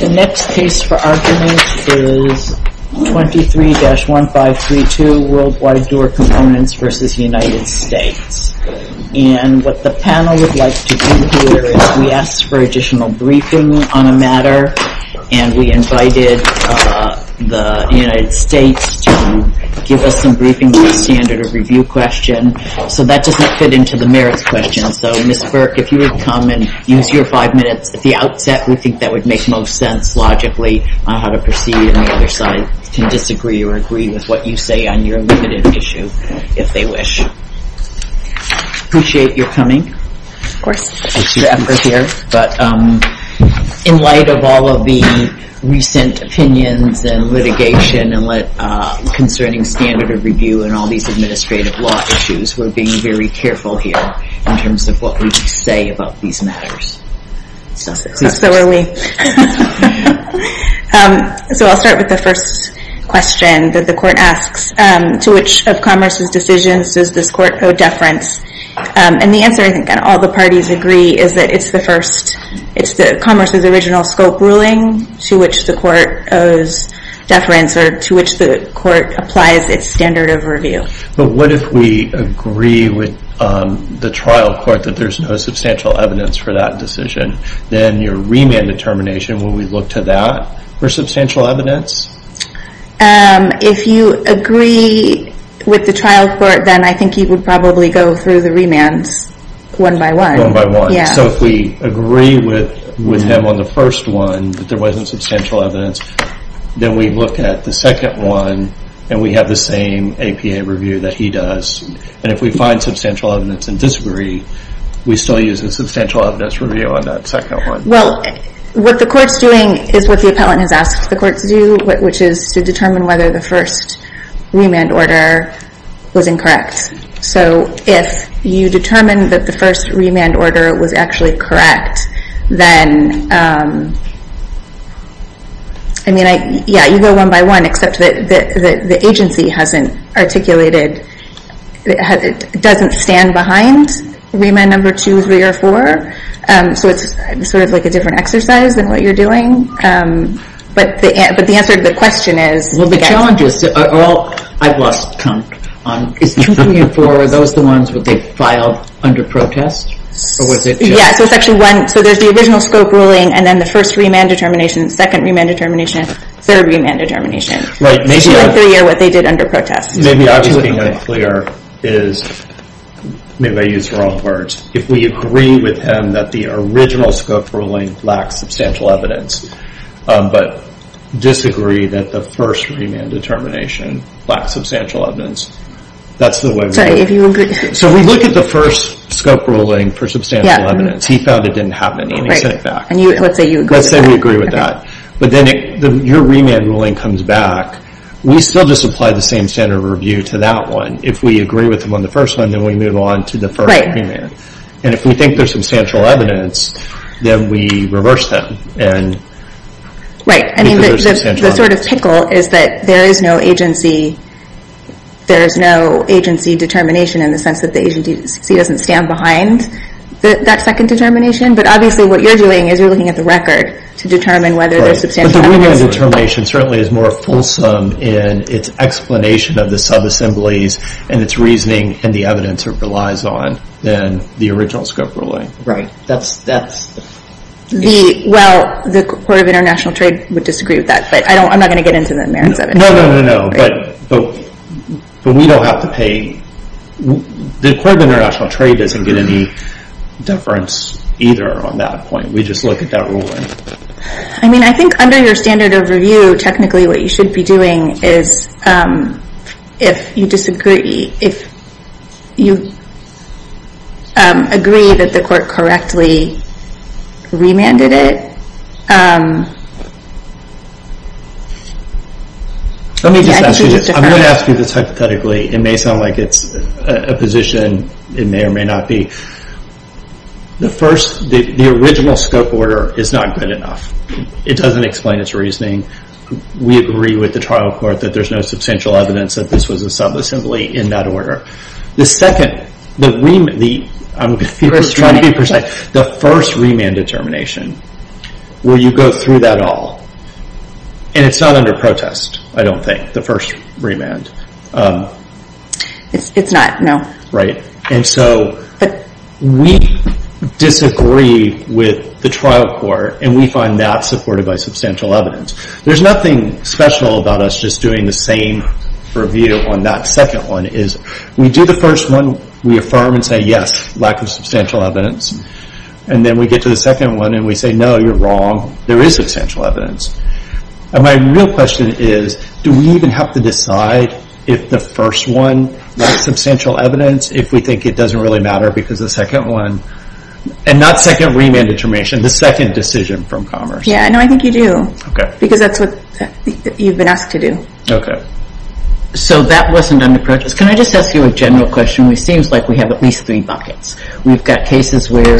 The next case for argument is 23-1532, Worldwide Door Components v. United States. And what the panel would like to do here is we asked for additional briefing on a matter, and we invited the United States to give us some briefing on a standard of review question. So that doesn't fit into the merits question. And so, Ms. Burke, if you would come and use your five minutes at the outset, we think that would make most sense logically on how to proceed, and the other side can disagree or agree with what you say on your limited issue, if they wish. Appreciate your coming. Of course, thank you for your effort here. But in light of all of the recent opinions and litigation concerning standard of review and all these administrative law issues, we're being very careful here in terms of what we say about these matters. So are we. So I'll start with the first question that the court asks. To which of Commerce's decisions does this court owe deference? And the answer, I think, and all the parties agree, is that it's the first. It's Commerce's original scope ruling to which the court owes deference or to which the court applies its standard of review. But what if we agree with the trial court that there's no substantial evidence for that decision? Then your remand determination, will we look to that for substantial evidence? If you agree with the trial court, then I think you would probably go through the remands one by one. One by one. So if we agree with them on the first one, that there wasn't substantial evidence, then we look at the second one and we have the same APA review that he does. And if we find substantial evidence and disagree, we still use the substantial evidence review on that second one. Well, what the court's doing is what the appellant has asked the court to do, which is to determine whether the first remand order was incorrect. So if you determine that the first remand order was actually correct, then, I mean, yeah, you go one by one, except that the agency hasn't articulated, doesn't stand behind remand number two, three, or four. So it's sort of like a different exercise than what you're doing. But the answer to the question is... I've lost count. Is two, three, and four, are those the ones that they filed under protest? Yeah, so it's actually one. So there's the original scope ruling and then the first remand determination, second remand determination, third remand determination. Right. Two or three are what they did under protest. Maybe I'm just being unclear. Maybe I used the wrong words. If we agree with him that the original scope ruling lacks substantial evidence but disagree that the first remand determination lacks substantial evidence, that's the way we do it. So if you agree... So if we look at the first scope ruling for substantial evidence, he found it didn't have any, and he sent it back. Right. Let's say you agree with that. Let's say we agree with that. But then your remand ruling comes back. We still just apply the same standard of review to that one. If we agree with him on the first one, then we move on to the first remand. And if we think there's substantial evidence, then we reverse them Right. The sort of pickle is that there is no agency determination in the sense that the agency doesn't stand behind that second determination. But obviously what you're doing is you're looking at the record to determine whether there's substantial evidence. But the remand determination certainly is more fulsome in its explanation of the sub-assemblies and its reasoning and the evidence it relies on than the original scope ruling. Right. Well, the Court of International Trade would disagree with that, but I'm not going to get into the merits of it. No, no, no, no. But we don't have to pay. The Court of International Trade doesn't get any deference either on that point. We just look at that ruling. I mean, I think under your standard of review, technically what you should be doing is if you disagree, if you agree that the court correctly remanded it. Let me just ask you this. I'm going to ask you this hypothetically. It may sound like it's a position. It may or may not be. The first, the original scope order is not good enough. It doesn't explain its reasoning. We agree with the trial court that there's no substantial evidence that this was a sub-assembly in that order. The second, the first remand determination, will you go through that all? And it's not under protest, I don't think, the first remand. It's not, no. Right. And so we disagree with the trial court, and we find that supported by substantial evidence. There's nothing special about us just doing the same review on that second one. We do the first one. We affirm and say, yes, lack of substantial evidence. And then we get to the second one, and we say, no, you're wrong. There is substantial evidence. And my real question is, do we even have to decide if the first one, lack of substantial evidence, if we think it doesn't really matter because the second one, and not second remand determination, the second decision from Commerce. Yeah, no, I think you do. Okay. Because that's what you've been asked to do. Okay. So that wasn't under protest. Can I just ask you a general question? It seems like we have at least three buckets. We've got cases where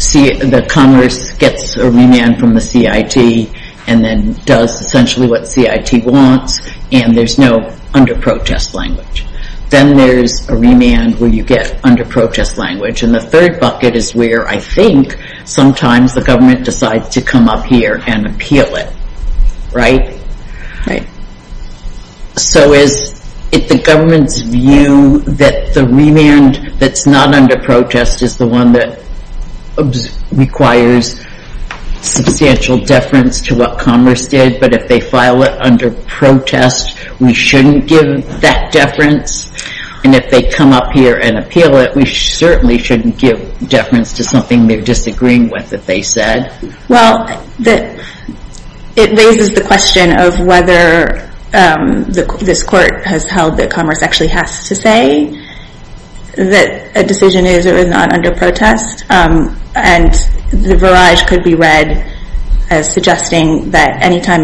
the Commerce gets a remand from the CIT and then does essentially what CIT wants, and there's no under protest language. Then there's a remand where you get under protest language. And the third bucket is where I think sometimes the government decides to come up here and appeal it, right? Right. So is it the government's view that the remand that's not under protest is the one that requires substantial deference to what Commerce did, but if they file it under protest, we shouldn't give that deference? And if they come up here and appeal it, we certainly shouldn't give deference to something they're disagreeing with that they said? Well, it raises the question of whether this court has held that Commerce actually has to say that a decision is or is not under protest. And the verage could be read as suggesting that anytime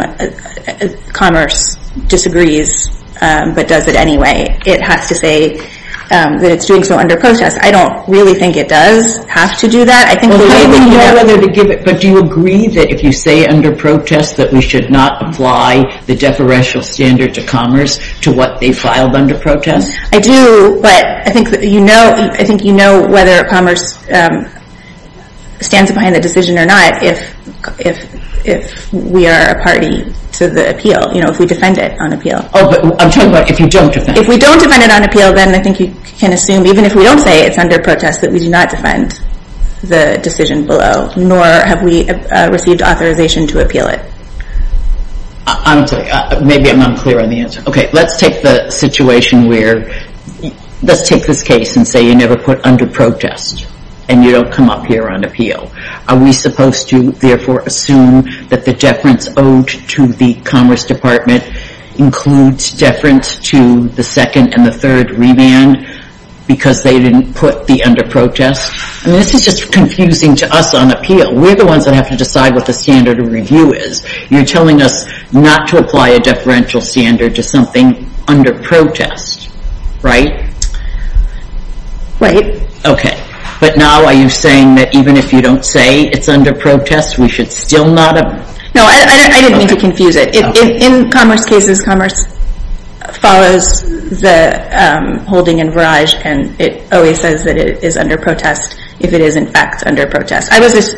Commerce disagrees but does it anyway, it has to say that it's doing so under protest. I don't really think it does have to do that. But do you agree that if you say under protest that we should not apply the deferential standard to Commerce to what they filed under protest? I do, but I think you know whether Commerce stands behind the decision or not if we are a party to the appeal, you know, if we defend it on appeal. Oh, but I'm talking about if you don't defend it. If we don't defend it on appeal, then I think you can assume, even if we don't say it's under protest, that we do not defend the decision below, nor have we received authorization to appeal it. I'm sorry, maybe I'm not clear on the answer. Okay, let's take the situation where, let's take this case and say you never put under protest and you don't come up here on appeal. Are we supposed to therefore assume that the deference owed to the Commerce Department includes deference to the second and the third remand because they didn't put the under protest? I mean, this is just confusing to us on appeal. We're the ones that have to decide what the standard of review is. You're telling us not to apply a deferential standard to something under protest, right? Right. Okay, but now are you saying that even if you don't say it's under protest, we should still not? No, I didn't mean to confuse it. In Commerce cases, Commerce follows the holding in Verage, and it always says that it is under protest if it is in fact under protest.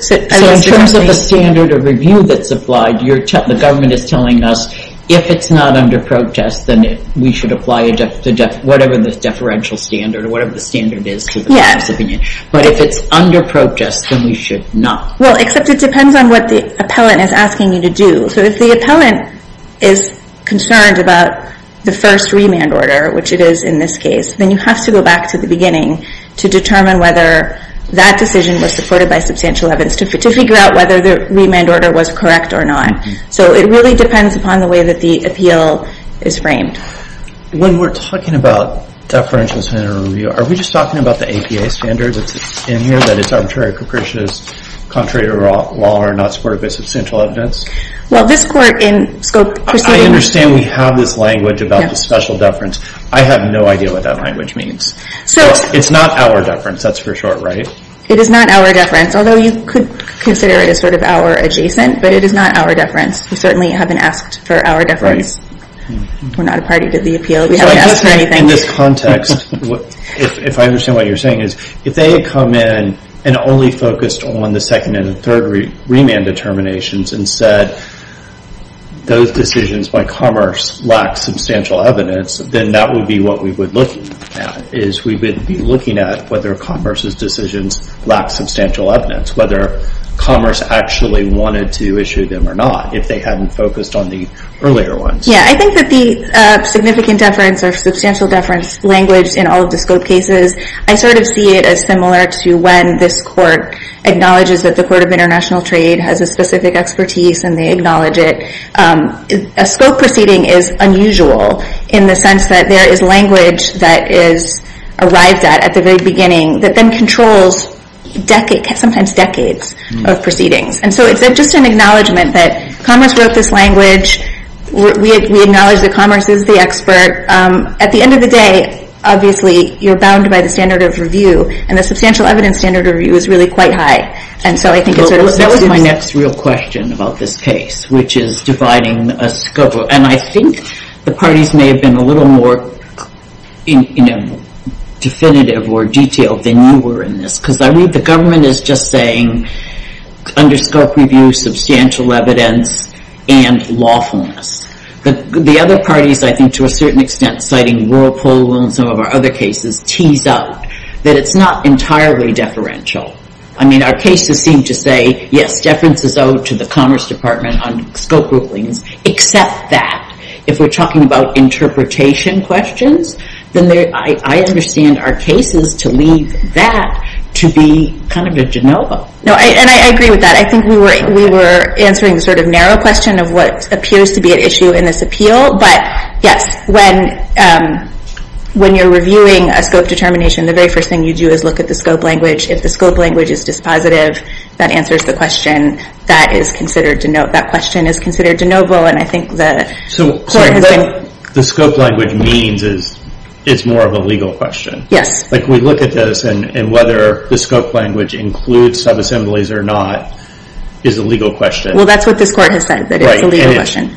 So in terms of the standard of review that's applied, the government is telling us if it's not under protest, then we should apply whatever the deferential standard or whatever the standard is to the Commerce opinion. But if it's under protest, then we should not. Well, except it depends on what the appellant is asking you to do. So if the appellant is concerned about the first remand order, which it is in this case, then you have to go back to the beginning to determine whether that decision was supported by substantial evidence to figure out whether the remand order was correct or not. So it really depends upon the way that the appeal is framed. When we're talking about deferential standard of review, are we just talking about the APA standard that's in here, that it's arbitrary, capricious, contrary to law, and not supported by substantial evidence? Well, this court in scope proceeding... I understand we have this language about the special deference. I have no idea what that language means. So... It's not our deference, that's for sure, right? It is not our deference, although you could consider it as sort of our adjacent, but it is not our deference. We certainly haven't asked for our deference. We're not a party to the appeal. We haven't asked for anything. In this context, if I understand what you're saying, is if they had come in and only focused on the second and third remand determinations and said those decisions by Commerce lacked substantial evidence, then that would be what we would look at, is we would be looking at whether Commerce's decisions lacked substantial evidence, whether Commerce actually wanted to issue them or not, if they hadn't focused on the earlier ones. Yeah, I think that the significant deference or substantial deference language in all of the scope cases, I sort of see it as similar to when this court acknowledges that the Court of International Trade has a specific expertise and they acknowledge it. A scope proceeding is unusual in the sense that there is language that is arrived at at the very beginning that then controls sometimes decades of proceedings. And so it's just an acknowledgment that Commerce wrote this language. We acknowledge that Commerce is the expert. At the end of the day, obviously, you're bound by the standard of review, and the substantial evidence standard of review is really quite high. And so I think it sort of... That was my next real question about this case, which is dividing a scope. And I think the parties may have been a little more definitive or detailed than you were in this, because I read the government as just saying, under scope review, substantial evidence, and lawfulness. The other parties, I think, to a certain extent, citing rural polo and some of our other cases, tease out that it's not entirely deferential. I mean, our cases seem to say, yes, deference is owed to the Commerce Department on scope rulings, except that if we're talking about interpretation questions, then I understand our cases to leave that to be kind of a de novo. No, and I agree with that. I think we were answering the sort of narrow question of what appears to be an issue in this appeal. But, yes, when you're reviewing a scope determination, the very first thing you do is look at the scope language. If the scope language is dispositive, that answers the question. That question is considered de novo, and I think the court has been... So what the scope language means is it's more of a legal question. Yes. Like, we look at this, and whether the scope language includes subassemblies or not is a legal question. Well, that's what this court has said, that it's a legal question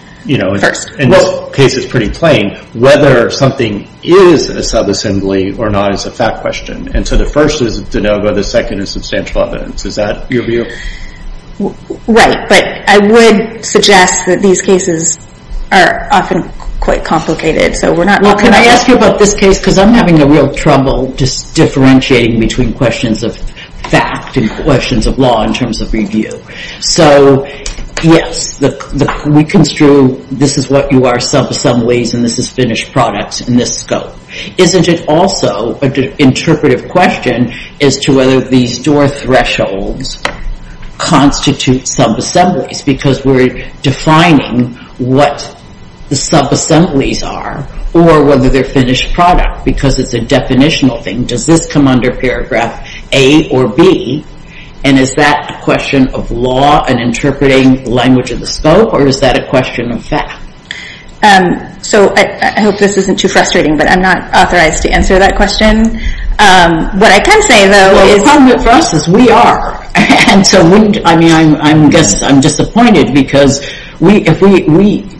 first. And this case is pretty plain. Whether something is a subassembly or not is a fact question. And so the first is de novo, the second is substantial evidence. Is that your view? Right. But I would suggest that these cases are often quite complicated, so we're not... Well, can I ask you about this case? Because I'm having a real trouble just differentiating between questions of fact and questions of law in terms of review. So, yes, we construe this is what you are, subassemblies, and this is finished products in this scope. Isn't it also an interpretive question as to whether these door thresholds constitute subassemblies? Because we're defining what the subassemblies are or whether they're finished product, because it's a definitional thing. Does this come under paragraph A or B? And is that a question of law and interpreting language of the scope, or is that a question of fact? So I hope this isn't too frustrating, but I'm not authorized to answer that question. What I can say, though, is... Well, the problem for us is we are. And so I guess I'm disappointed because we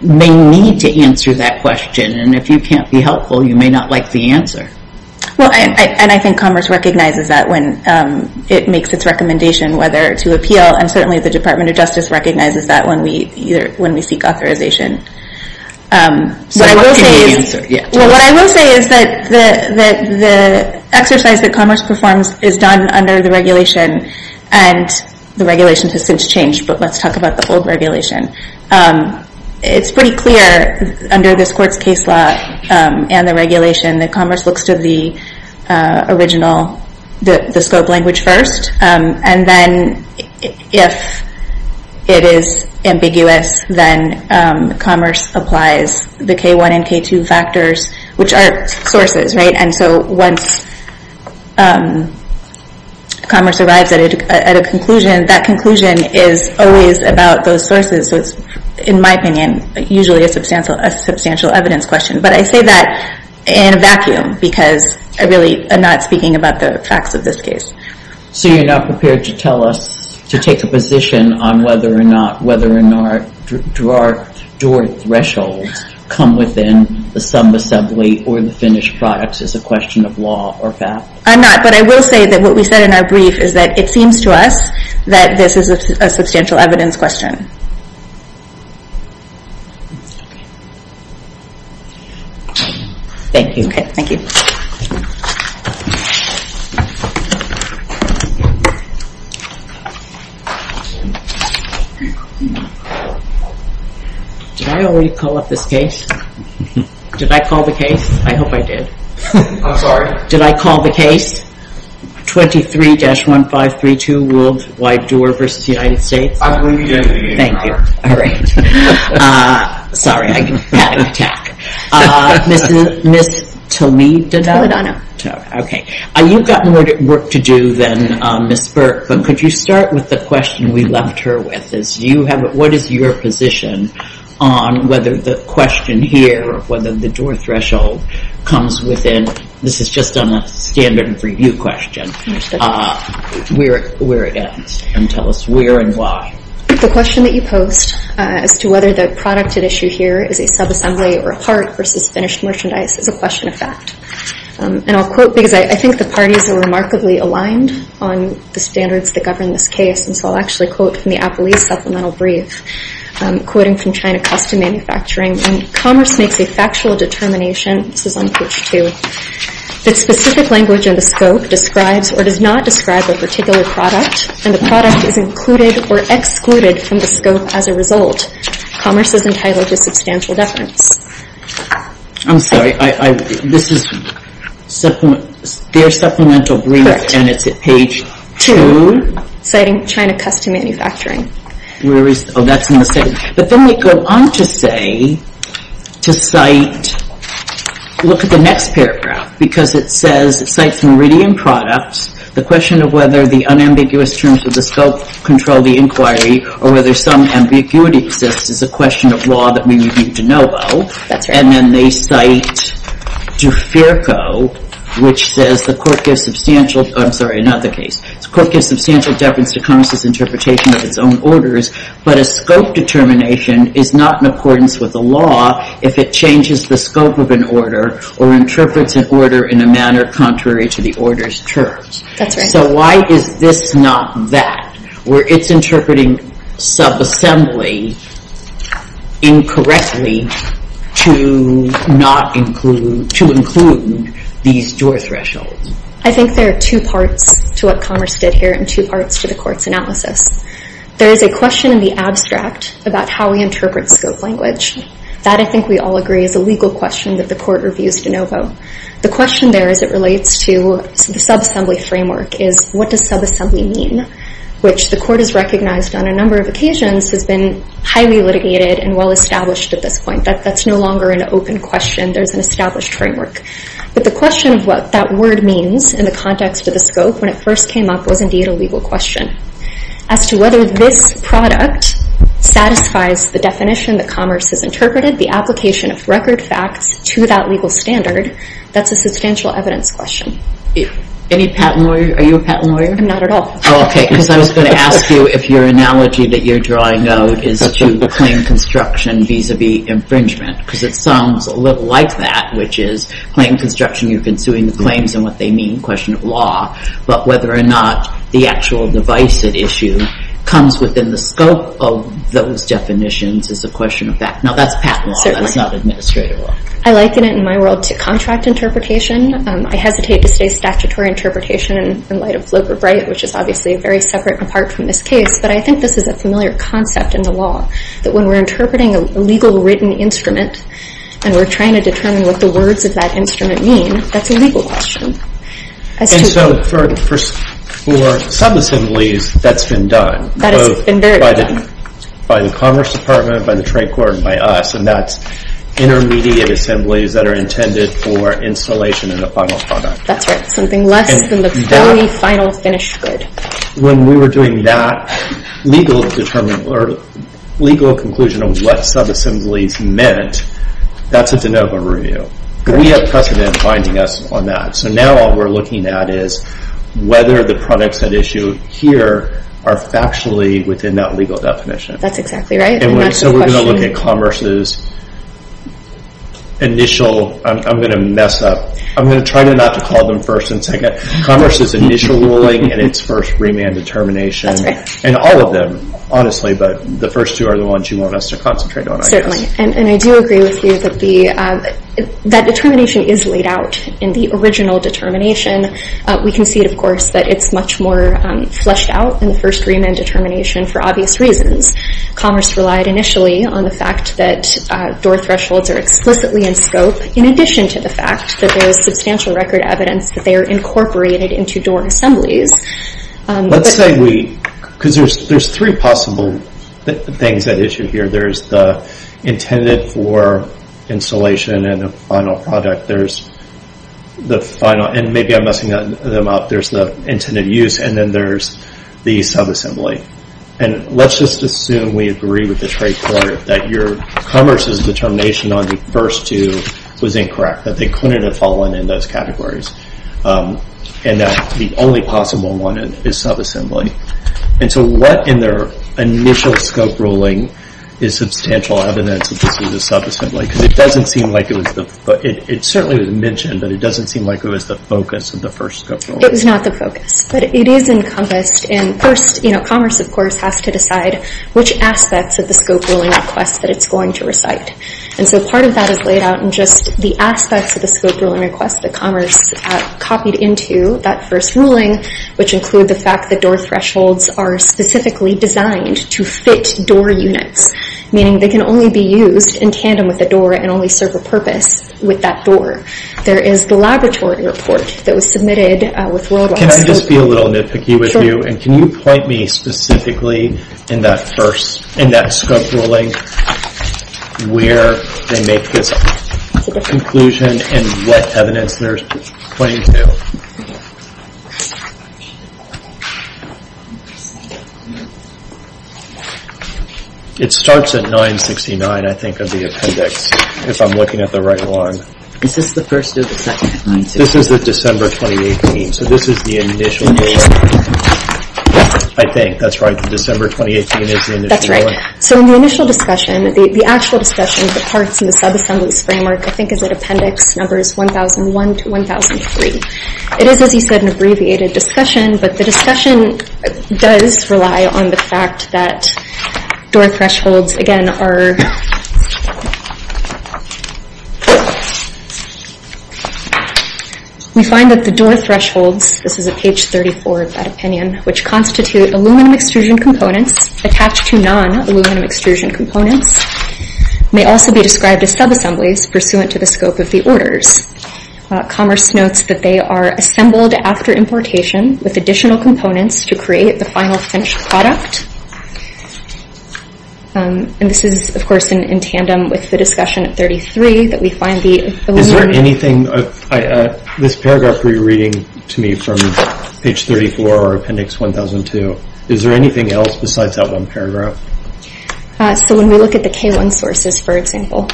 may need to answer that question, and if you can't be helpful, you may not like the answer. Well, and I think Commerce recognizes that when it makes its recommendation whether to appeal, and certainly the Department of Justice recognizes that when we seek authorization. So what can we answer? Well, what I will say is that the exercise that Commerce performs is done under the regulation, and the regulation has since changed, but let's talk about the old regulation. It's pretty clear under this court's case law and the regulation that Commerce looks to the original, the scope language first, and then if it is ambiguous, then Commerce applies the K1 and K2 factors, which are sources, right? And so once Commerce arrives at a conclusion, that conclusion is always about those sources. So it's, in my opinion, usually a substantial evidence question. But I say that in a vacuum because I really am not speaking about the facts of this case. So you're not prepared to tell us, to take a position on whether or not, whether or not door thresholds come within the sub-assembly or the finished products as a question of law or fact? I'm not, but I will say that what we said in our brief is that it seems to us that this is a substantial evidence question. Thank you. Okay, thank you. Did I already call up this case? Did I call the case? I hope I did. I'm sorry. Did I call the case? 23-1532 World Wide Door v. United States? I believe you did. Thank you. All right. Sorry, I had an attack. Ms. Toledo? Toledano. Okay. You've got more work to do than Ms. Burke, but could you start with the question we left her with? What is your position on whether the question here of whether the door threshold comes within, this is just on a standard review question, where it ends? And tell us where and why. The question that you post as to whether the product at issue here is a subassembly or a part versus finished merchandise is a question of fact. And I'll quote because I think the parties are remarkably aligned on the standards that govern this case, and so I'll actually quote from the Applease Supplemental Brief, quoting from China Custom Manufacturing, when commerce makes a factual determination, this is on page two, that specific language in the scope describes or does not describe a particular product and the product is included or excluded from the scope as a result. Commerce is entitled to substantial deference. I'm sorry. This is their Supplemental Brief, and it's at page two. Citing China Custom Manufacturing. Oh, that's in the second. But then they go on to say, to cite, look at the next paragraph, because it says, it cites Meridian Products. The question of whether the unambiguous terms of the scope control the inquiry or whether some ambiguity exists is a question of law that we would need to know about. And then they cite DeFirco, which says the court gives substantial, I'm sorry, not the case. The court gives substantial deference to commerce's interpretation of its own orders, but a scope determination is not in accordance with the law if it changes the scope of an order or interprets an order in a manner contrary to the order's terms. That's right. So why is this not that, where it's interpreting subassembly incorrectly to include these door thresholds? I think there are two parts to what commerce did here and two parts to the court's analysis. There is a question in the abstract about how we interpret scope language. That, I think we all agree, is a legal question that the court reviews de novo. The question there as it relates to the subassembly framework is what does subassembly mean, which the court has recognized on a number of occasions has been highly litigated and well established at this point. That's no longer an open question. There's an established framework. But the question of what that word means in the context of the scope when it first came up was indeed a legal question. As to whether this product satisfies the definition that commerce has interpreted, the application of record facts to that legal standard, that's a substantial evidence question. Any patent lawyer? Are you a patent lawyer? I'm not at all. Oh, okay, because I was going to ask you if your analogy that you're drawing out is to claim construction vis-a-vis infringement, because it sounds a little like that, which is claim construction, you're consuming the claims and what they mean, question of law, but whether or not the actual device at issue comes within the scope of those definitions is a question of fact. Now, that's patent law. That's not administrative law. I liken it in my world to contract interpretation. I hesitate to say statutory interpretation in light of Flip or Bright, which is obviously very separate and apart from this case, but I think this is a familiar concept in the law, that when we're interpreting a legal written instrument and we're trying to determine what the words of that instrument mean, that's a legal question. And so for sub-assemblies, that's been done. That has been very done. Both by the Commerce Department, by the Trade Court, and by us, and that's intermediate assemblies that are intended for installation in a final product. That's right. Something less than the very final finished good. When we were doing that legal conclusion of what sub-assemblies meant, that's a de novo review. We have precedent binding us on that. So now all we're looking at is whether the products at issue here are factually within that legal definition. That's exactly right. So we're going to look at Commerce's initial—I'm going to mess up. I'm going to try not to call them first and second. Commerce's initial ruling and its first remand determination. That's right. And all of them, honestly, but the first two are the ones you want us to concentrate on, I guess. Certainly. And I do agree with you that determination is laid out in the original determination. We can see, of course, that it's much more fleshed out in the first remand determination for obvious reasons. Commerce relied initially on the fact that door thresholds are explicitly in scope, in addition to the fact that there is substantial record evidence that they are incorporated into door assemblies. Let's say we—because there's three possible things at issue here. There's the intended for installation and the final product. There's the final—and maybe I'm messing them up. There's the intended use, and then there's the subassembly. And let's just assume we agree with the trade court that Commerce's determination on the first two was incorrect, that they couldn't have fallen in those categories, and that the only possible one is subassembly. And so what in their initial scope ruling is substantial evidence that this is a subassembly? Because it doesn't seem like it was the—it certainly was mentioned, but it doesn't seem like it was the focus of the first scope ruling. It was not the focus, but it is encompassed. And first, Commerce, of course, has to decide which aspects of the scope ruling request that it's going to recite. And so part of that is laid out in just the aspects of the scope ruling request that Commerce copied into that first ruling, which include the fact that door thresholds are specifically designed to fit door units, meaning they can only be used in tandem with a door and only serve a purpose with that door. There is the laboratory report that was submitted with Worldwide. Can I just be a little nitpicky with you? And can you point me specifically in that scope ruling where they make this conclusion and what evidence they're pointing to? Okay. It starts at 969, I think, of the appendix, if I'm looking at the right one. Is this the first or the second appendix? This is the December 2018. So this is the initial—I think. That's right. The December 2018 is the initial one. That's right. So in the initial discussion, the actual discussion, the parts in the subassemblies framework, I think, is at appendix numbers 1001 to 1003. It is, as you said, an abbreviated discussion, but the discussion does rely on the fact that door thresholds, again, are— we find that the door thresholds—this is at page 34 of that opinion— which constitute aluminum extrusion components attached to non-aluminum extrusion components may also be described as subassemblies pursuant to the scope of the orders. Commerce notes that they are assembled after importation with additional components to create the final finished product. And this is, of course, in tandem with the discussion at 33 that we find the aluminum— Is there anything—this paragraph that you're reading to me from page 34 or appendix 1002, is there anything else besides that one paragraph? So when we look at the K1 sources, for example—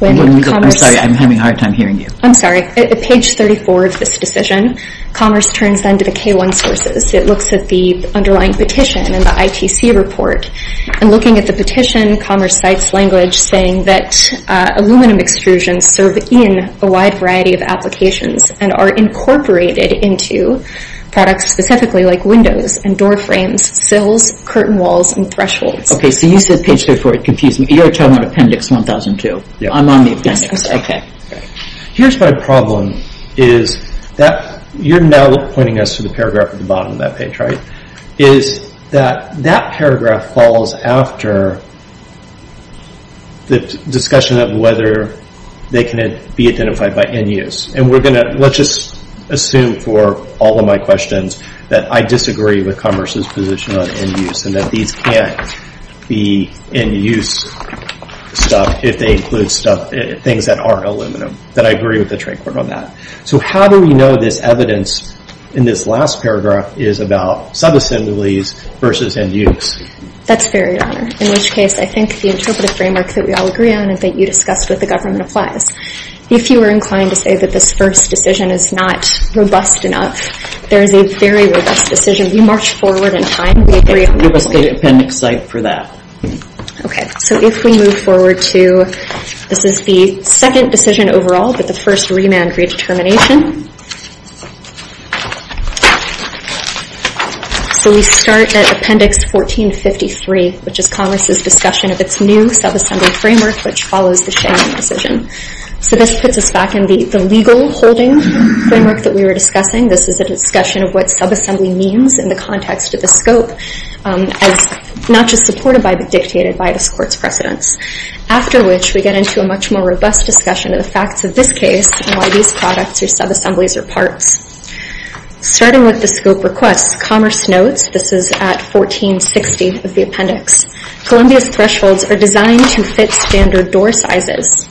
I'm sorry, I'm having a hard time hearing you. I'm sorry. At page 34 of this decision, Commerce turns then to the K1 sources. It looks at the underlying petition and the ITC report. And looking at the petition, Commerce cites language saying that aluminum extrusions serve in a wide variety of applications and are incorporated into products specifically like windows and door frames, sills, curtain walls, and thresholds. Okay, so you said page 34. It confused me. You're talking about appendix 1002. I'm on the appendix. Here's my problem is that you're now pointing us to the paragraph at the bottom of that page, right? Is that that paragraph falls after the discussion of whether they can be identified by end use. And we're going to—let's just assume for all of my questions that I disagree with Commerce's position on end use and that these can't be end use stuff if they include things that aren't aluminum, that I agree with the trade court on that. So how do we know this evidence in this last paragraph is about subassemblies versus end use? That's fair, Your Honor, in which case I think the interpretive framework that we all agree on and that you discussed with the government applies. If you were inclined to say that this first decision is not robust enough, there is a very robust decision. We march forward in time. We agree on that. Give us the appendix cite for that. Okay, so if we move forward to—this is the second decision overall, but the first remand redetermination. So we start at appendix 1453, which is Commerce's discussion of its new subassembly framework, which follows the Shannon decision. So this puts us back in the legal holding framework that we were discussing. This is a discussion of what subassembly means in the context of the scope as not just supported by but dictated by this Court's precedents, after which we get into a much more robust discussion of the facts of this case and why these products are subassemblies or parts. Starting with the scope requests, Commerce notes—this is at 1460 of the appendix— Columbia's thresholds are designed to fit standard door sizes.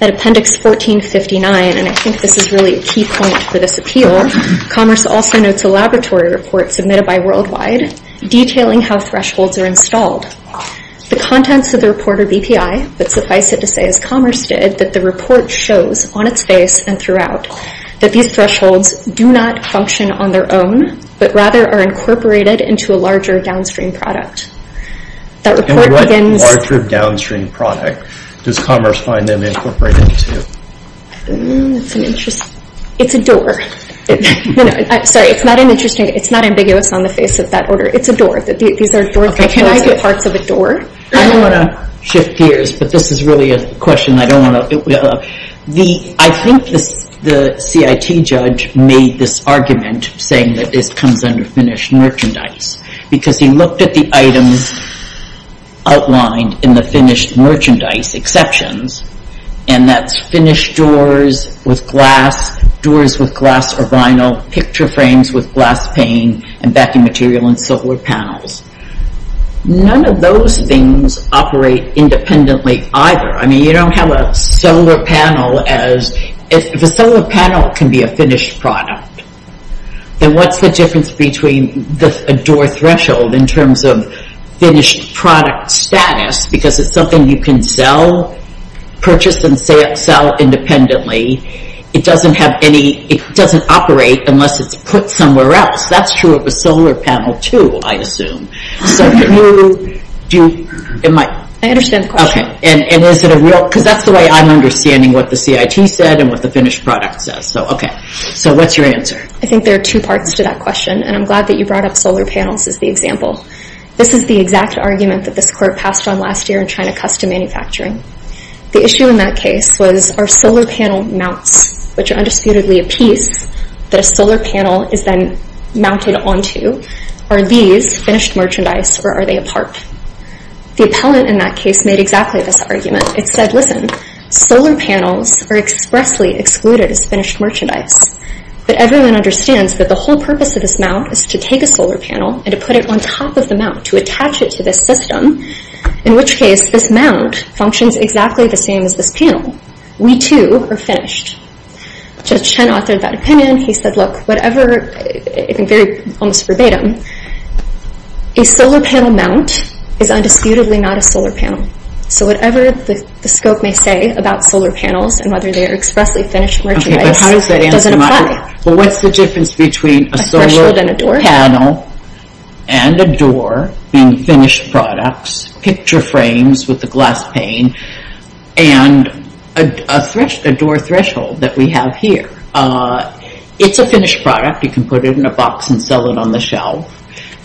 At appendix 1459—and I think this is really a key point for this appeal— Commerce also notes a laboratory report submitted by Worldwide detailing how thresholds are installed. The contents of the report are BPI, but suffice it to say, as Commerce did, that the report shows on its face and throughout that these thresholds do not function on their own but rather are incorporated into a larger downstream product. And what larger downstream product does Commerce find them incorporated into? It's a door. Sorry, it's not ambiguous on the face of that order. It's a door. These are door thresholds. Can I get parts of a door? I don't want to shift gears, but this is really a question I don't want to— I think the CIT judge made this argument, saying that this comes under finished merchandise, because he looked at the items outlined in the finished merchandise exceptions, and that's finished doors with glass, doors with glass or vinyl, picture frames with glass pane, and backing material and solar panels. None of those things operate independently either. I mean, you don't have a solar panel as— if a solar panel can be a finished product, then what's the difference between a door threshold in terms of finished product status, because it's something you can sell, purchase and sell independently. It doesn't have any—it doesn't operate unless it's put somewhere else. That's true of a solar panel, too, I assume. So can you—do you— I understand the question. Okay. And is it a real— because that's the way I'm understanding what the CIT said and what the finished product says. Okay. So what's your answer? I think there are two parts to that question, and I'm glad that you brought up solar panels as the example. This is the exact argument that this court passed on last year in China Custom Manufacturing. The issue in that case was, are solar panel mounts, which are undisputedly a piece that a solar panel is then mounted onto, are these finished merchandise, or are they a part? The appellant in that case made exactly this argument. It said, listen, solar panels are expressly excluded as finished merchandise. But everyone understands that the whole purpose of this mount is to take a solar panel and to put it on top of the mount, to attach it to this system, in which case this mount functions exactly the same as this panel. We, too, are finished. Judge Chen authored that opinion. He said, look, whatever— in very almost verbatim— a solar panel mount is undisputedly not a solar panel. So whatever the scope may say about solar panels and whether they are expressly finished merchandise doesn't apply. Okay, but how does that answer my question? Well, what's the difference between a solar panel and a door being finished products, picture frames with the glass pane, and a door threshold that we have here? It's a finished product. You can put it in a box and sell it on the shelf,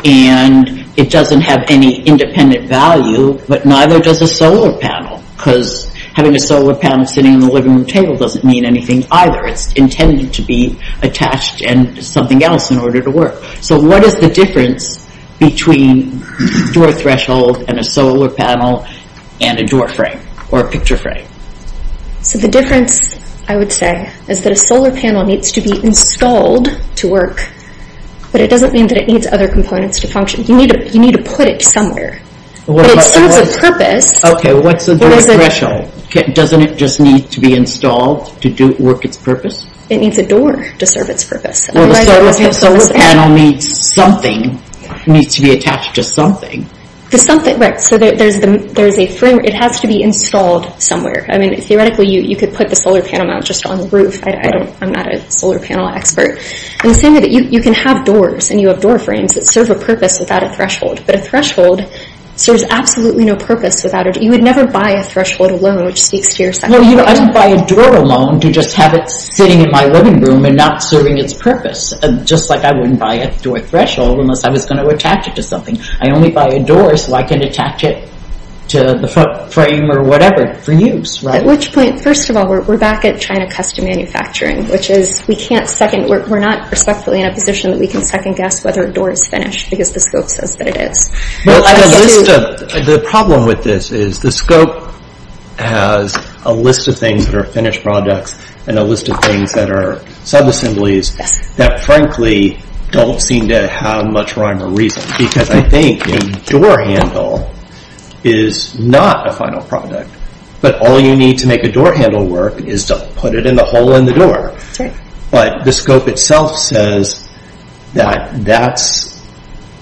and it doesn't have any independent value, but neither does a solar panel, because having a solar panel sitting on the living room table doesn't mean anything either. It's intended to be attached to something else in order to work. So what is the difference between a door threshold and a solar panel and a door frame or a picture frame? So the difference, I would say, is that a solar panel needs to be installed to work, but it doesn't mean that it needs other components to function. You need to put it somewhere. But it serves a purpose. Okay, what's a door threshold? Doesn't it just need to be installed to work its purpose? It needs a door to serve its purpose. Well, the solar panel needs something, needs to be attached to something. Right, so there's a frame. It has to be installed somewhere. I mean, theoretically, you could put the solar panel just on the roof. I'm not a solar panel expert. You can have doors, and you have door frames that serve a purpose without a threshold, but a threshold serves absolutely no purpose without it. You would never buy a threshold alone, which speaks to your second point. No, I don't buy a door alone to just have it sitting in my living room and not serving its purpose, just like I wouldn't buy a door threshold unless I was going to attach it to something. I only buy a door so I can attach it to the front frame or whatever for use. At which point, first of all, we're back at China custom manufacturing, which is we can't second, we're not respectfully in a position that we can second guess whether a door is finished because the scope says that it is. The problem with this is the scope has a list of things that are finished products and a list of things that are sub-assemblies that frankly don't seem to have much rhyme or reason because I think a door handle is not a final product, but all you need to make a door handle work is to put it in the hole in the door. But the scope itself says that that's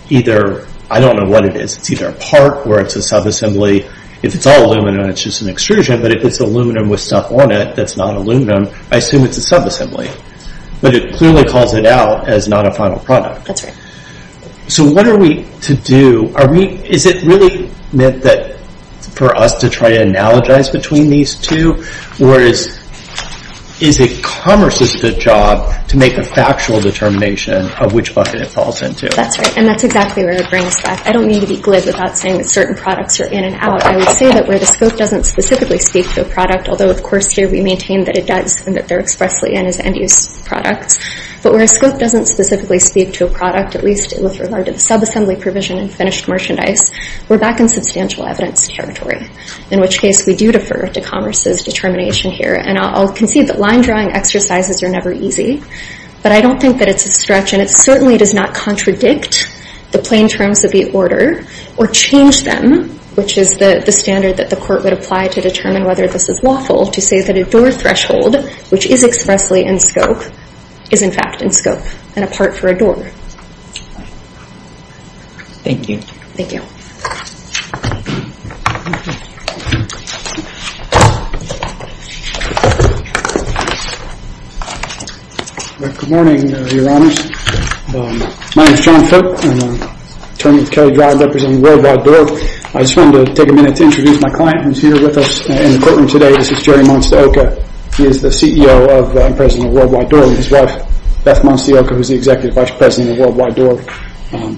either, I don't know what it is, it's either a part or it's a sub-assembly. If it's all aluminum and it's just an extrusion, but if it's aluminum with stuff on it that's not aluminum, I assume it's a sub-assembly. But it clearly calls it out as not a final product. So what are we to do? Is it really meant for us to try to analogize between these two? Or is it commerce's job to make a factual determination of which bucket it falls into? That's right, and that's exactly where it brings us back. I don't mean to be glib without saying that certain products are in and out. I would say that where the scope doesn't specifically speak to a product, although of course here we maintain that it does and that they're expressly in as end-use products, but where a scope doesn't specifically speak to a product, at least with regard to the sub-assembly provision and finished merchandise, we're back in substantial evidence territory, in which case we do defer to commerce's determination here. And I'll concede that line-drawing exercises are never easy, but I don't think that it's a stretch, and it certainly does not contradict the plain terms of the order or change them, which is the standard that the court would apply to determine whether this is lawful, to say that a door threshold, which is expressly in scope, is in fact in scope and a part for a door. Thank you. Thank you. Thank you. Good morning, Your Honors. My name is John Foote. I'm an attorney with Kelley Drive representing Worldwide Door. I just wanted to take a minute to introduce my client who's here with us in the courtroom today. This is Jerry Monstaoka. He is the CEO and President of Worldwide Door and his wife, Beth Monstaoka, who's the Executive Vice President of Worldwide Door.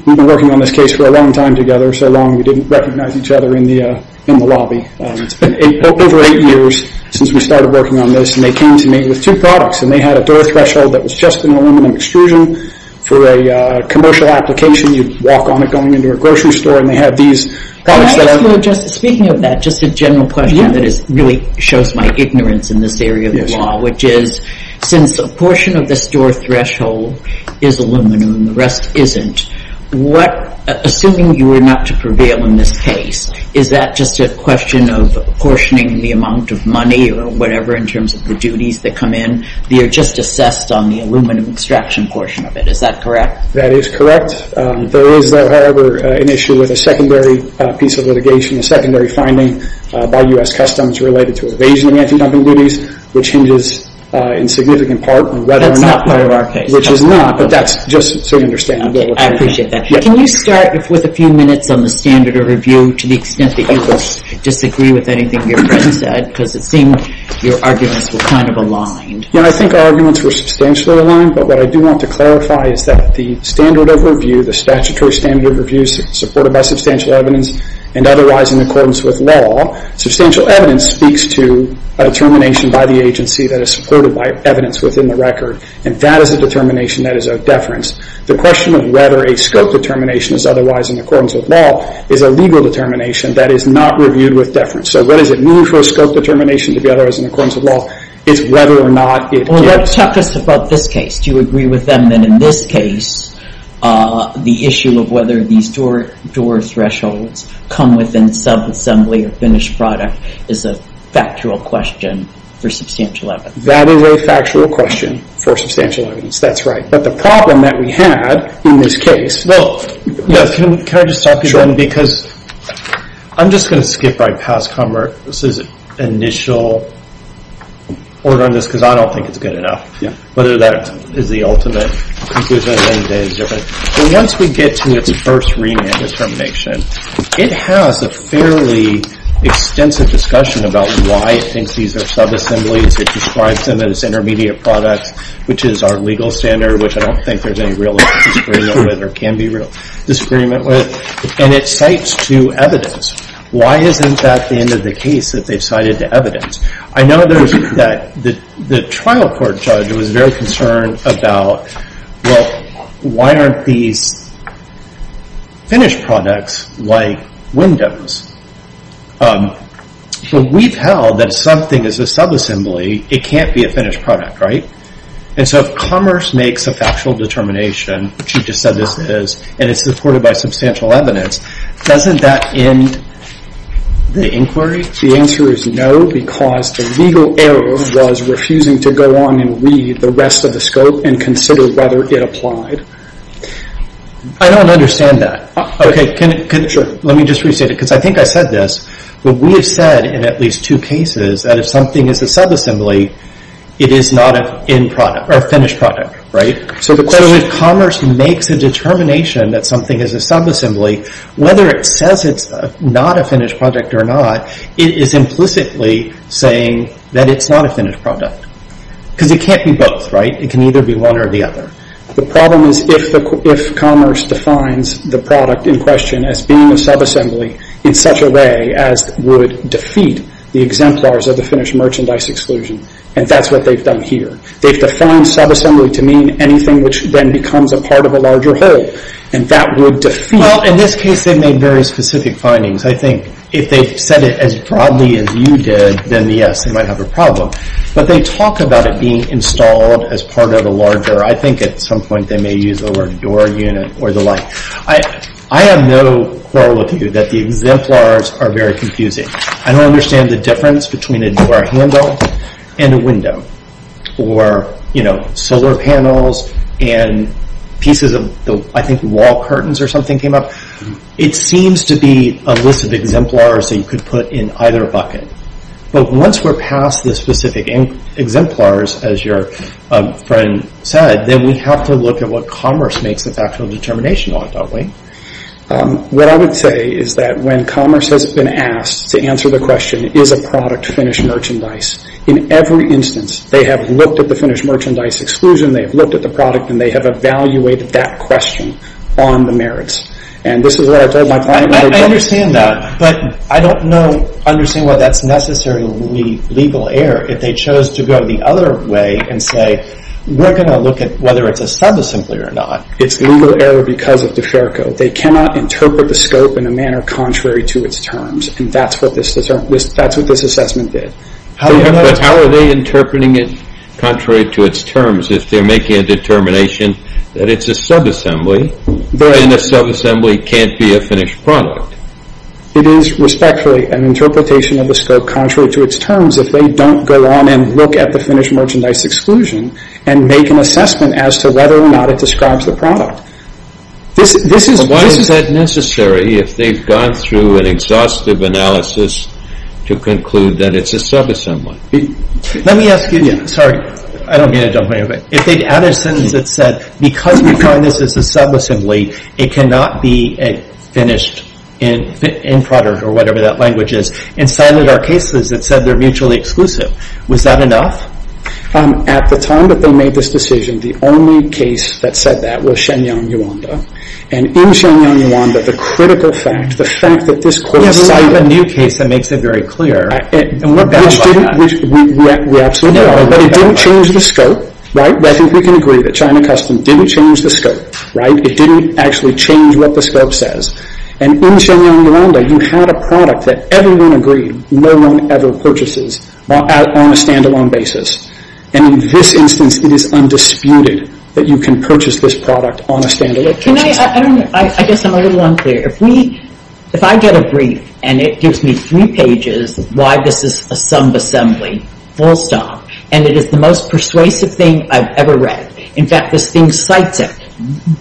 We've been working on this case for a long time together. For so long, we didn't recognize each other in the lobby. It's been over eight years since we started working on this, and they came to me with two products, and they had a door threshold that was just an aluminum extrusion. For a commercial application, you'd walk on it going into a grocery store, and they had these products that are... Can I ask you, Justice, speaking of that, just a general question that really shows my ignorance in this area of the law, which is since a portion of this door threshold is aluminum and the rest isn't, what... Assuming you were not to prevail in this case, is that just a question of portioning the amount of money or whatever in terms of the duties that come in? They are just assessed on the aluminum extraction portion of it. Is that correct? That is correct. There is, however, an issue with a secondary piece of litigation, a secondary finding by U.S. Customs related to evasion of anti-dumping duties, which hinges in significant part on whether or not... That's not part of our case. Which is not, but that's just so you understand. I appreciate that. Can you start with a few minutes on the standard of review to the extent that you will disagree with anything your friend said, because it seemed your arguments were kind of aligned. I think our arguments were substantially aligned, but what I do want to clarify is that the standard of review, the statutory standard of review supported by substantial evidence and otherwise in accordance with law, substantial evidence speaks to a determination by the agency that is supported by evidence within the record, and that is a determination that is of deference. The question of whether a scope determination is otherwise in accordance with law is a legal determination that is not reviewed with deference. So what does it mean for a scope determination to be otherwise in accordance with law? It's whether or not it is. Talk to us about this case. Do you agree with them that in this case, the issue of whether these door thresholds come within subassembly or finished product is a factual question for substantial evidence? That is a factual question for substantial evidence. That's right. But the problem that we had in this case... Well, yes. Can I just talk to you then? Because I'm just going to skip right past Commerck. This is initial order on this because I don't think it's good enough. Yeah. Whether that is the ultimate conclusion is different. But once we get to its first remand determination, it has a fairly extensive discussion about why it thinks these are subassemblies. It describes them as intermediate products, which is our legal standard, which I don't think there's any real disagreement with or can be real disagreement with. And it cites to evidence. Why isn't that the end of the case that they've cited to evidence? I know that the trial court judge was very concerned about, well, why aren't these finished products like windows? But we've held that something is a subassembly. It can't be a finished product, right? And so if Commerck makes a factual determination, which you just said this is, and it's supported by substantial evidence, doesn't that end the inquiry? The answer is no because the legal error was refusing to go on and read the rest of the scope and consider whether it applied. I don't understand that. Okay. Let me just restate it because I think I said this, but we have said in at least two cases that if something is a subassembly, it is not a finished product, right? So if Commerck makes a determination that something is a subassembly, whether it says it's not a finished product or not, it is implicitly saying that it's not a finished product because it can't be both, right? It can either be one or the other. The problem is if Commerck defines the product in question as being a subassembly in such a way as would defeat the exemplars of the and that's what they've done here. They've defined subassembly to mean anything which then becomes a part of a larger whole and that would defeat... Well, in this case, they made very specific findings. I think if they said it as broadly as you did, then yes, they might have a problem. But they talk about it being installed as part of a larger... I think at some point they may use the word your unit or the like. I have no quality that the exemplars are very confusing. I don't understand the difference between a door handle and a window or solar panels and pieces of... I think wall curtains or something came up. It seems to be a list of exemplars that you could put in either bucket. But once we're past the specific exemplars as your friend said, then we have to look at what Commerck makes its actual determination on, don't we? What I would say is that when Commerck has been asked to answer the question is a product Finnish merchandise? In every instance, they have looked at the Finnish merchandise exclusion, they have looked at the product and they have evaluated that question on the merits. And this is what I told my client... I understand that, but I don't understand why that's necessarily legal error if they chose to go the other way and say we're going to look at whether it's a sub-assembly or not. It's legal error because of the fair code. They cannot interpret the scope in a manner contrary to its terms. And that's what this assessment did. But how are they interpreting it contrary to its terms if they're making a determination that it's a sub-assembly and a sub-assembly can't be a Finnish product? It is respectfully an interpretation of the scope contrary to its terms if they don't go on and look at the Finnish merchandise exclusion and make an assessment as to whether or not it describes the product. This is... But why is that necessary if they've gone through an exhaustive analysis to conclude that it's a sub-assembly? Let me ask you... Sorry. I don't mean to jump in. If they had a sentence that said because we find this as a sub-assembly it cannot be a Finnish end product or whatever that language is and cited our cases that said they're mutually exclusive. Was that enough? At the time that they made this decision the only case that said that was Shenyang, Rwanda. And in Shenyang, Rwanda the critical fact the fact that this court has a new case that makes it very clear and we're battled by that. Which didn't... We absolutely are. But it didn't change the scope. Right? But I think we can agree that China Custom didn't change the scope. Right? It didn't actually change what the scope says. And in Shenyang, Rwanda you had a product that everyone agreed no one ever purchases on a stand-alone basis. And in this instance it is undisputed that you can purchase this product on a stand-alone basis. Can I... I don't know. I guess I'm a little unclear. If we... If I get a brief and it gives me three pages why this is a sub-assembly full stop and it is the most persuasive thing I've ever read. In fact, this thing cites it.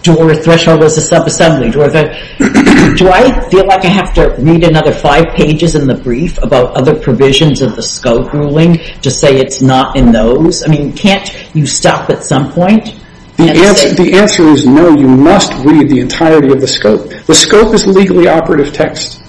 Door threshold is a sub-assembly. Do I feel like I have to read another five pages in the brief about other provisions of the scope ruling to say it's not in those? I mean, can't you stop at some point and say... The answer is no. You must read the entirety of the scope. The scope is legally operative text.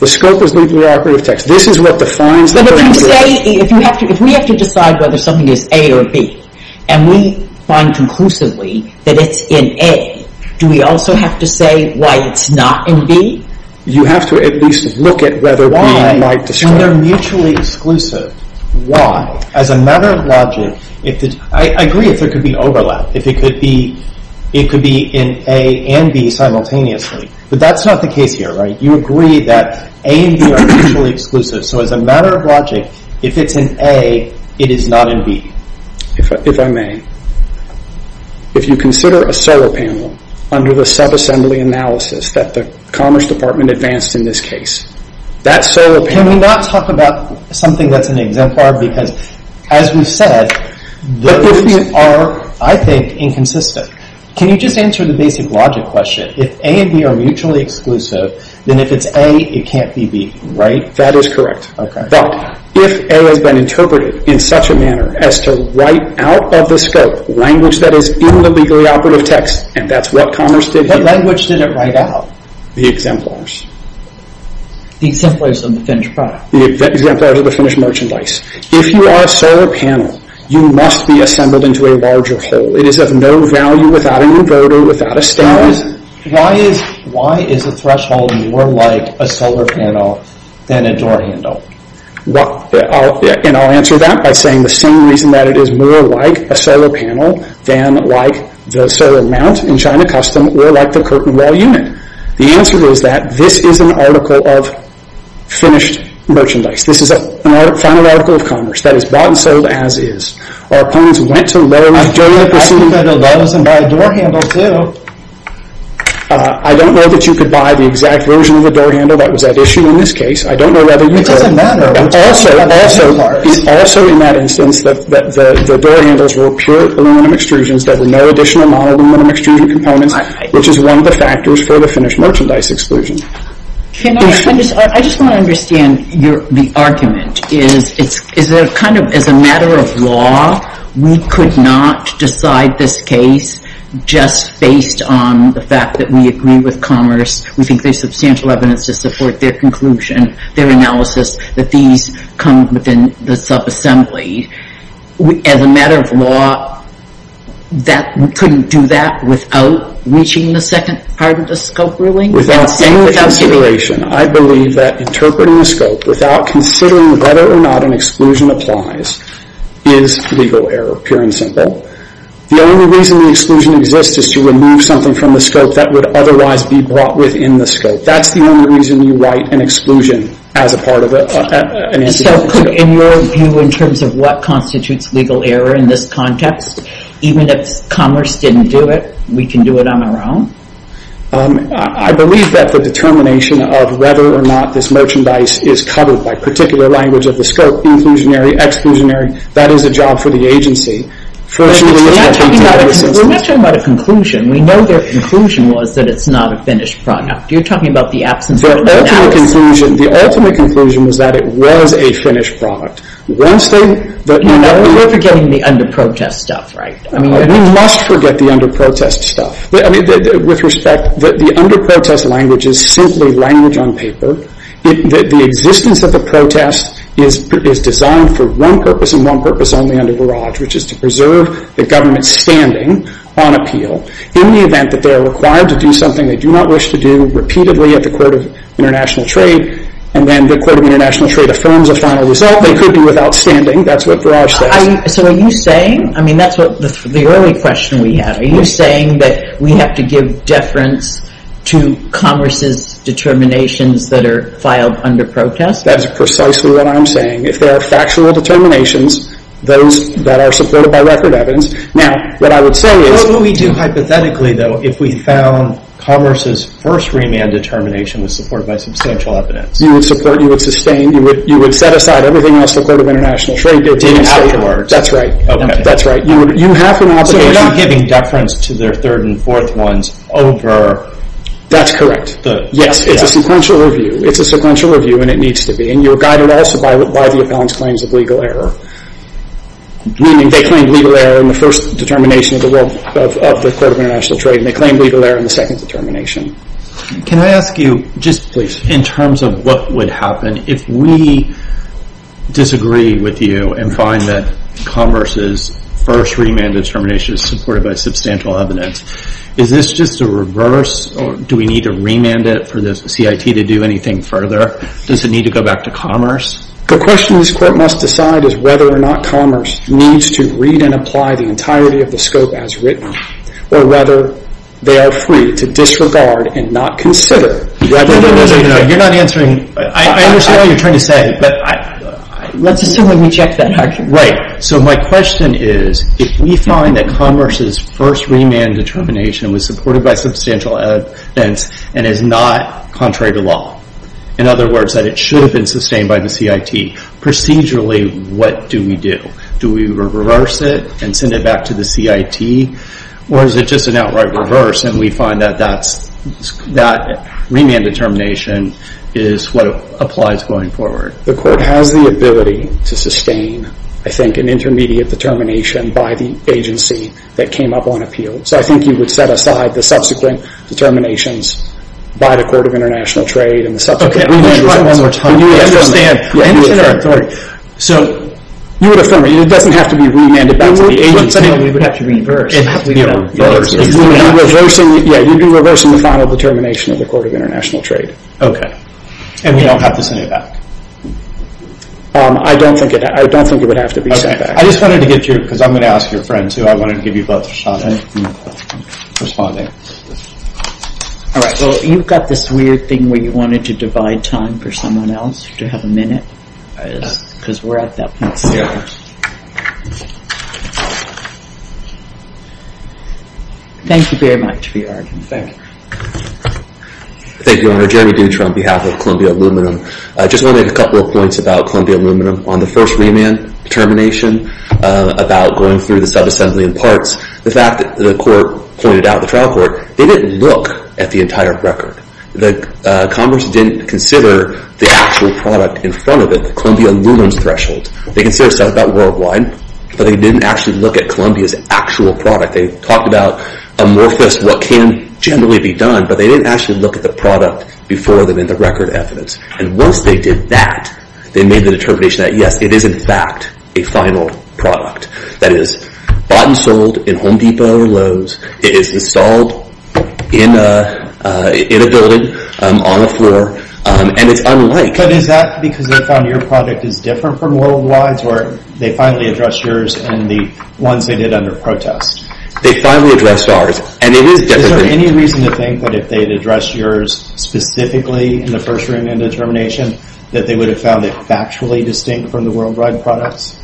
The scope is legally operative text. This is what defines the... If we have to decide whether something is A or B and we find conclusively that it's in A do we also have to say why it's not in B? You have to at least look at whether B might describe... When they're mutually exclusive why? As a matter of logic if the... I agree if there could be overlap. If it could be in A and B simultaneously but that's not the case here, right? You agree that A and B are mutually exclusive so as a matter of logic if it's in A it is not in B. If I may if you consider a solo panel under the subassembly analysis that the Commerce Department advanced in this case that solo panel... Can we not talk about something that's an exemplar because as we've said those are I think inconsistent. Can you just answer the basic logic question? If A and B are mutually exclusive then if it's A it can't be B. That is correct. But if A has been interpreted in such a manner as to write out of the scope language that is in the legally operative text and that's what Commerce did here... What language did it write out? The exemplars. The exemplars of the finished product. The exemplars of the finished merchandise. If you are a solo panel you must be assembled into a larger whole. It is of no value without an inverter or without a stand. Why is a threshold more like a solo panel than a door handle? And I'll answer that by saying the same reason that it is more like a solo panel than like the solo mount in China Custom or like the curtain wall unit. The answer is that this is an article of finished merchandise. This is a final article of Commerce that is bought and sold as is. Our opponents went to Lowe's during the pandemic I don't know that you could buy the exact version of the door handle that was at issue in this case. I don't know whether you could. matter. And also in that instance the door handles were pure aluminum extrusions with no additional aluminum extrusion components which is one of the for the finished merchandise exclusion. I just want to understand the argument is that as a matter of law we could not decide this case just based on the fact that we agree with Commerce we think there is substantial evidence to support their conclusion their analysis that these come within the sub assembly. As a matter of law that we couldn't do that without reaching the second part of the scope ruling. consideration I believe that interpreting the scope without considering whether or not an applies is legal error pure and The only reason the exclusion exists is to remove something from the scope that would otherwise be brought within the scope. That's the only reason you write an exclusion as a part of it. In your view in terms of what constitutes legal error in this context even if Commerce didn't do it we can do it on our own? I believe that the determination of whether or not this merchandise is covered by particular language of the scope inclusionary exclusionary that is a job for the agency. We're not talking about a conclusion we know their conclusion was that it's not a finished product. You're talking about the ultimate conclusion that it was a finished product. We're forgetting the under protest stuff right? We must forget the under protest stuff. The under protest language is simply language on The existence of the protest is designed for one purpose and one purpose and that is to preserve the government standing on appeal in the event that they're required to do something they do not wish to do repeatedly at the court of international trade and then the court of trade affirms the final result and then the court of confirms the final result. And the purpose of the process. And that's the form of the government standing on appeal. The government standing on appeal does not have an obligation to their third and fourth ones. That's correct. It's a sequential review. you're guided by the claims of legal error. They claimed legal error in the form of remand determination supported by substantial evidence. Is this just a reverse? Do we need to remand it for the CIT to do anything further? Does it need to go back to question this remand Let's assume we checked that argument. My question is if we find that commerce's first remand determination was supported by substantial evidence and is not contrary to in other words, it should have been by the CIT, procedurally what do we do? Do we reverse it and send it back to the CIT? Or is it just an outright reverse and we find that that remand determination is what applies going forward? You would affirm it. It doesn't have to be remanded back to the agency. You would be reversing the final determination of the court of international trade. And we don't have to send it back? I don't think it would have to be sent back. I'm going to ask your friend. I want to give you both a shot at responding. All right. Well, you've got this weird thing where you wanted to divide time for someone else to have a minute. Because we're at that point still. Thank you very much for your argument. Thank you. Thank you, Jeremy Dutra on behalf of Columbia Aluminum. I just want to make a couple of points about Aluminum. On the first remand determination about going through the subassembly and parts, the fact that the court pointed out, the trial court, they didn't look at the entire record. The court can generally be done, but they didn't look at the product before them in the record evidence. they did that, they made the determination that, it is in fact a final product. That it is bought and sold in Home it is installed in a building, on a floor, and it's unlike. But is that because they found your product is different from worldwide's or they finally addressed yours and the ones they did under protest? They finally addressed ours and it is different. any reason to think that if they addressed yours specifically in the first room and determination that they would have found it factually distinct from the worldwide products?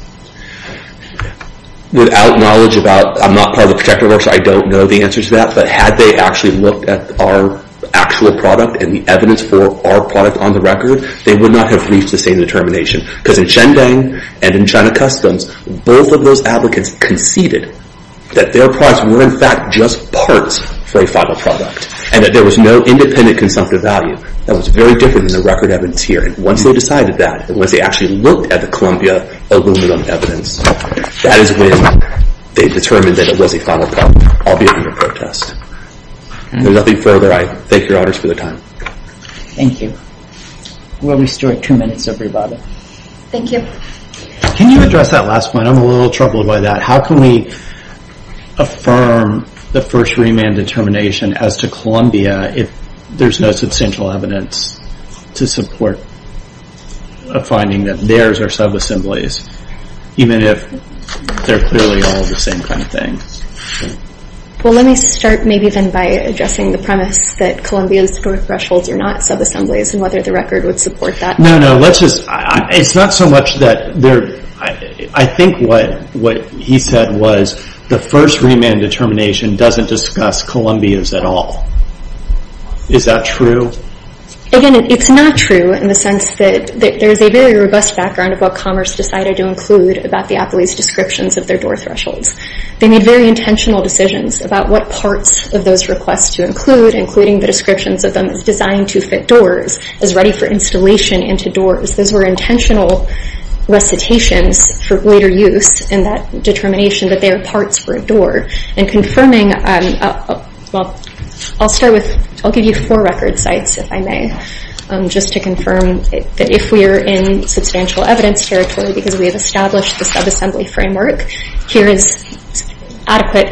Without knowledge about, I don't know the answer to but had they looked at our actual product and the for our product on the record, they would not have reached the same determination because in China customs both of those applicants conceded that their products were in fact just parts for a final product and there was no independent value. Once they decided that and looked at the Columbia evidence, that is when they determined it was a final product. I will be open to protest. Thank you for your time. We will restore two minutes. Can you address that last point? How can we affirm the first remand determination as to if there is no substantial evidence to support a finding that theirs are sub assemblies even if they are clearly all the same kind of thing? Let me start by addressing the premise that thresholds are not sub assemblies. I think what he said was the first remand determination does not discuss Columbia at all. Is that true? It is not true in the sense that there is a robust background about what commerce decided to include. They made intentional decisions about what parts to include as ready for into doors. Those thresholds sub assemblies. is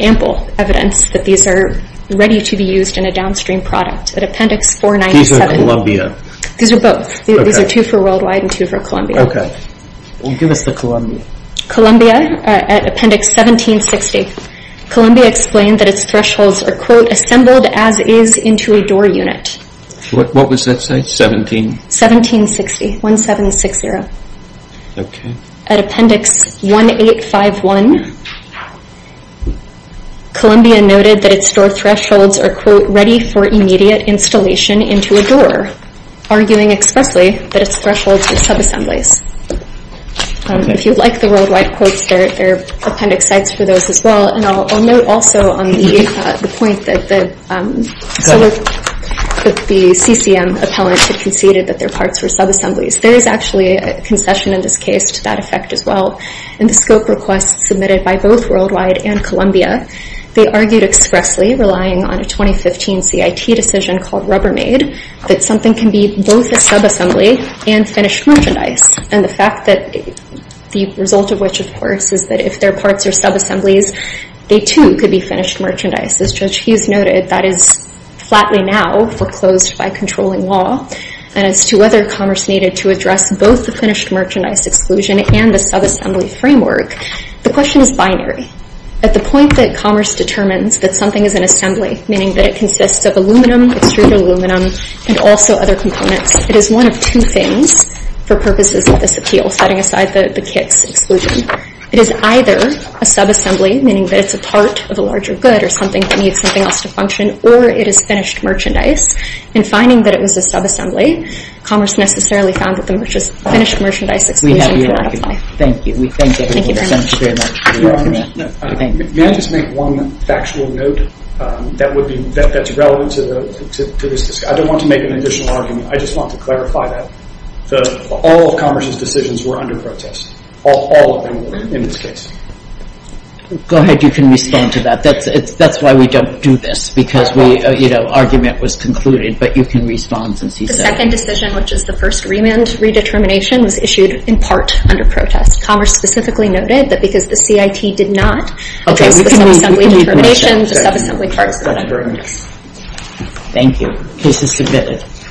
ample evidence that these are ready to be in a downstream product. These are both. These are two for worldwide and two Columbia. Columbia at appendix 1760. explained that its thresholds are assembled as is into a door unit. 1760. At appendix 1851, noted that its door thresholds are ready for immediate installation into a expressly that its thresholds are If you would like the worldwide quotes, there are appendix sites for those as well. I will note also the point that the CCM appellant conceded that their parts were sub assemblies. There is a concession to that effect as well. In the scope request submitted by both worldwide and they argued expressly relying on a 2015 CIT decision called Rubbermaid that something can be both a sub assembly and finished merchandise. And the fact that the result of which, of course, is that if their parts are sub assemblies, they too could be merchandise. As Judge Hughes noted, that is flatly now foreclosed by controlling law. And as to whether commerce needed to both the merchandise exclusion and the sub framework, the question is binary. At the point that determines that something is an meaning that it consists of aluminum, extruded aluminum, and also other components, it is one of two things supported under protest. Commerce specifically noted that because the CIT did not oppose the sub determination, the sub assembly part is a burden. Thank you. Case is submitted.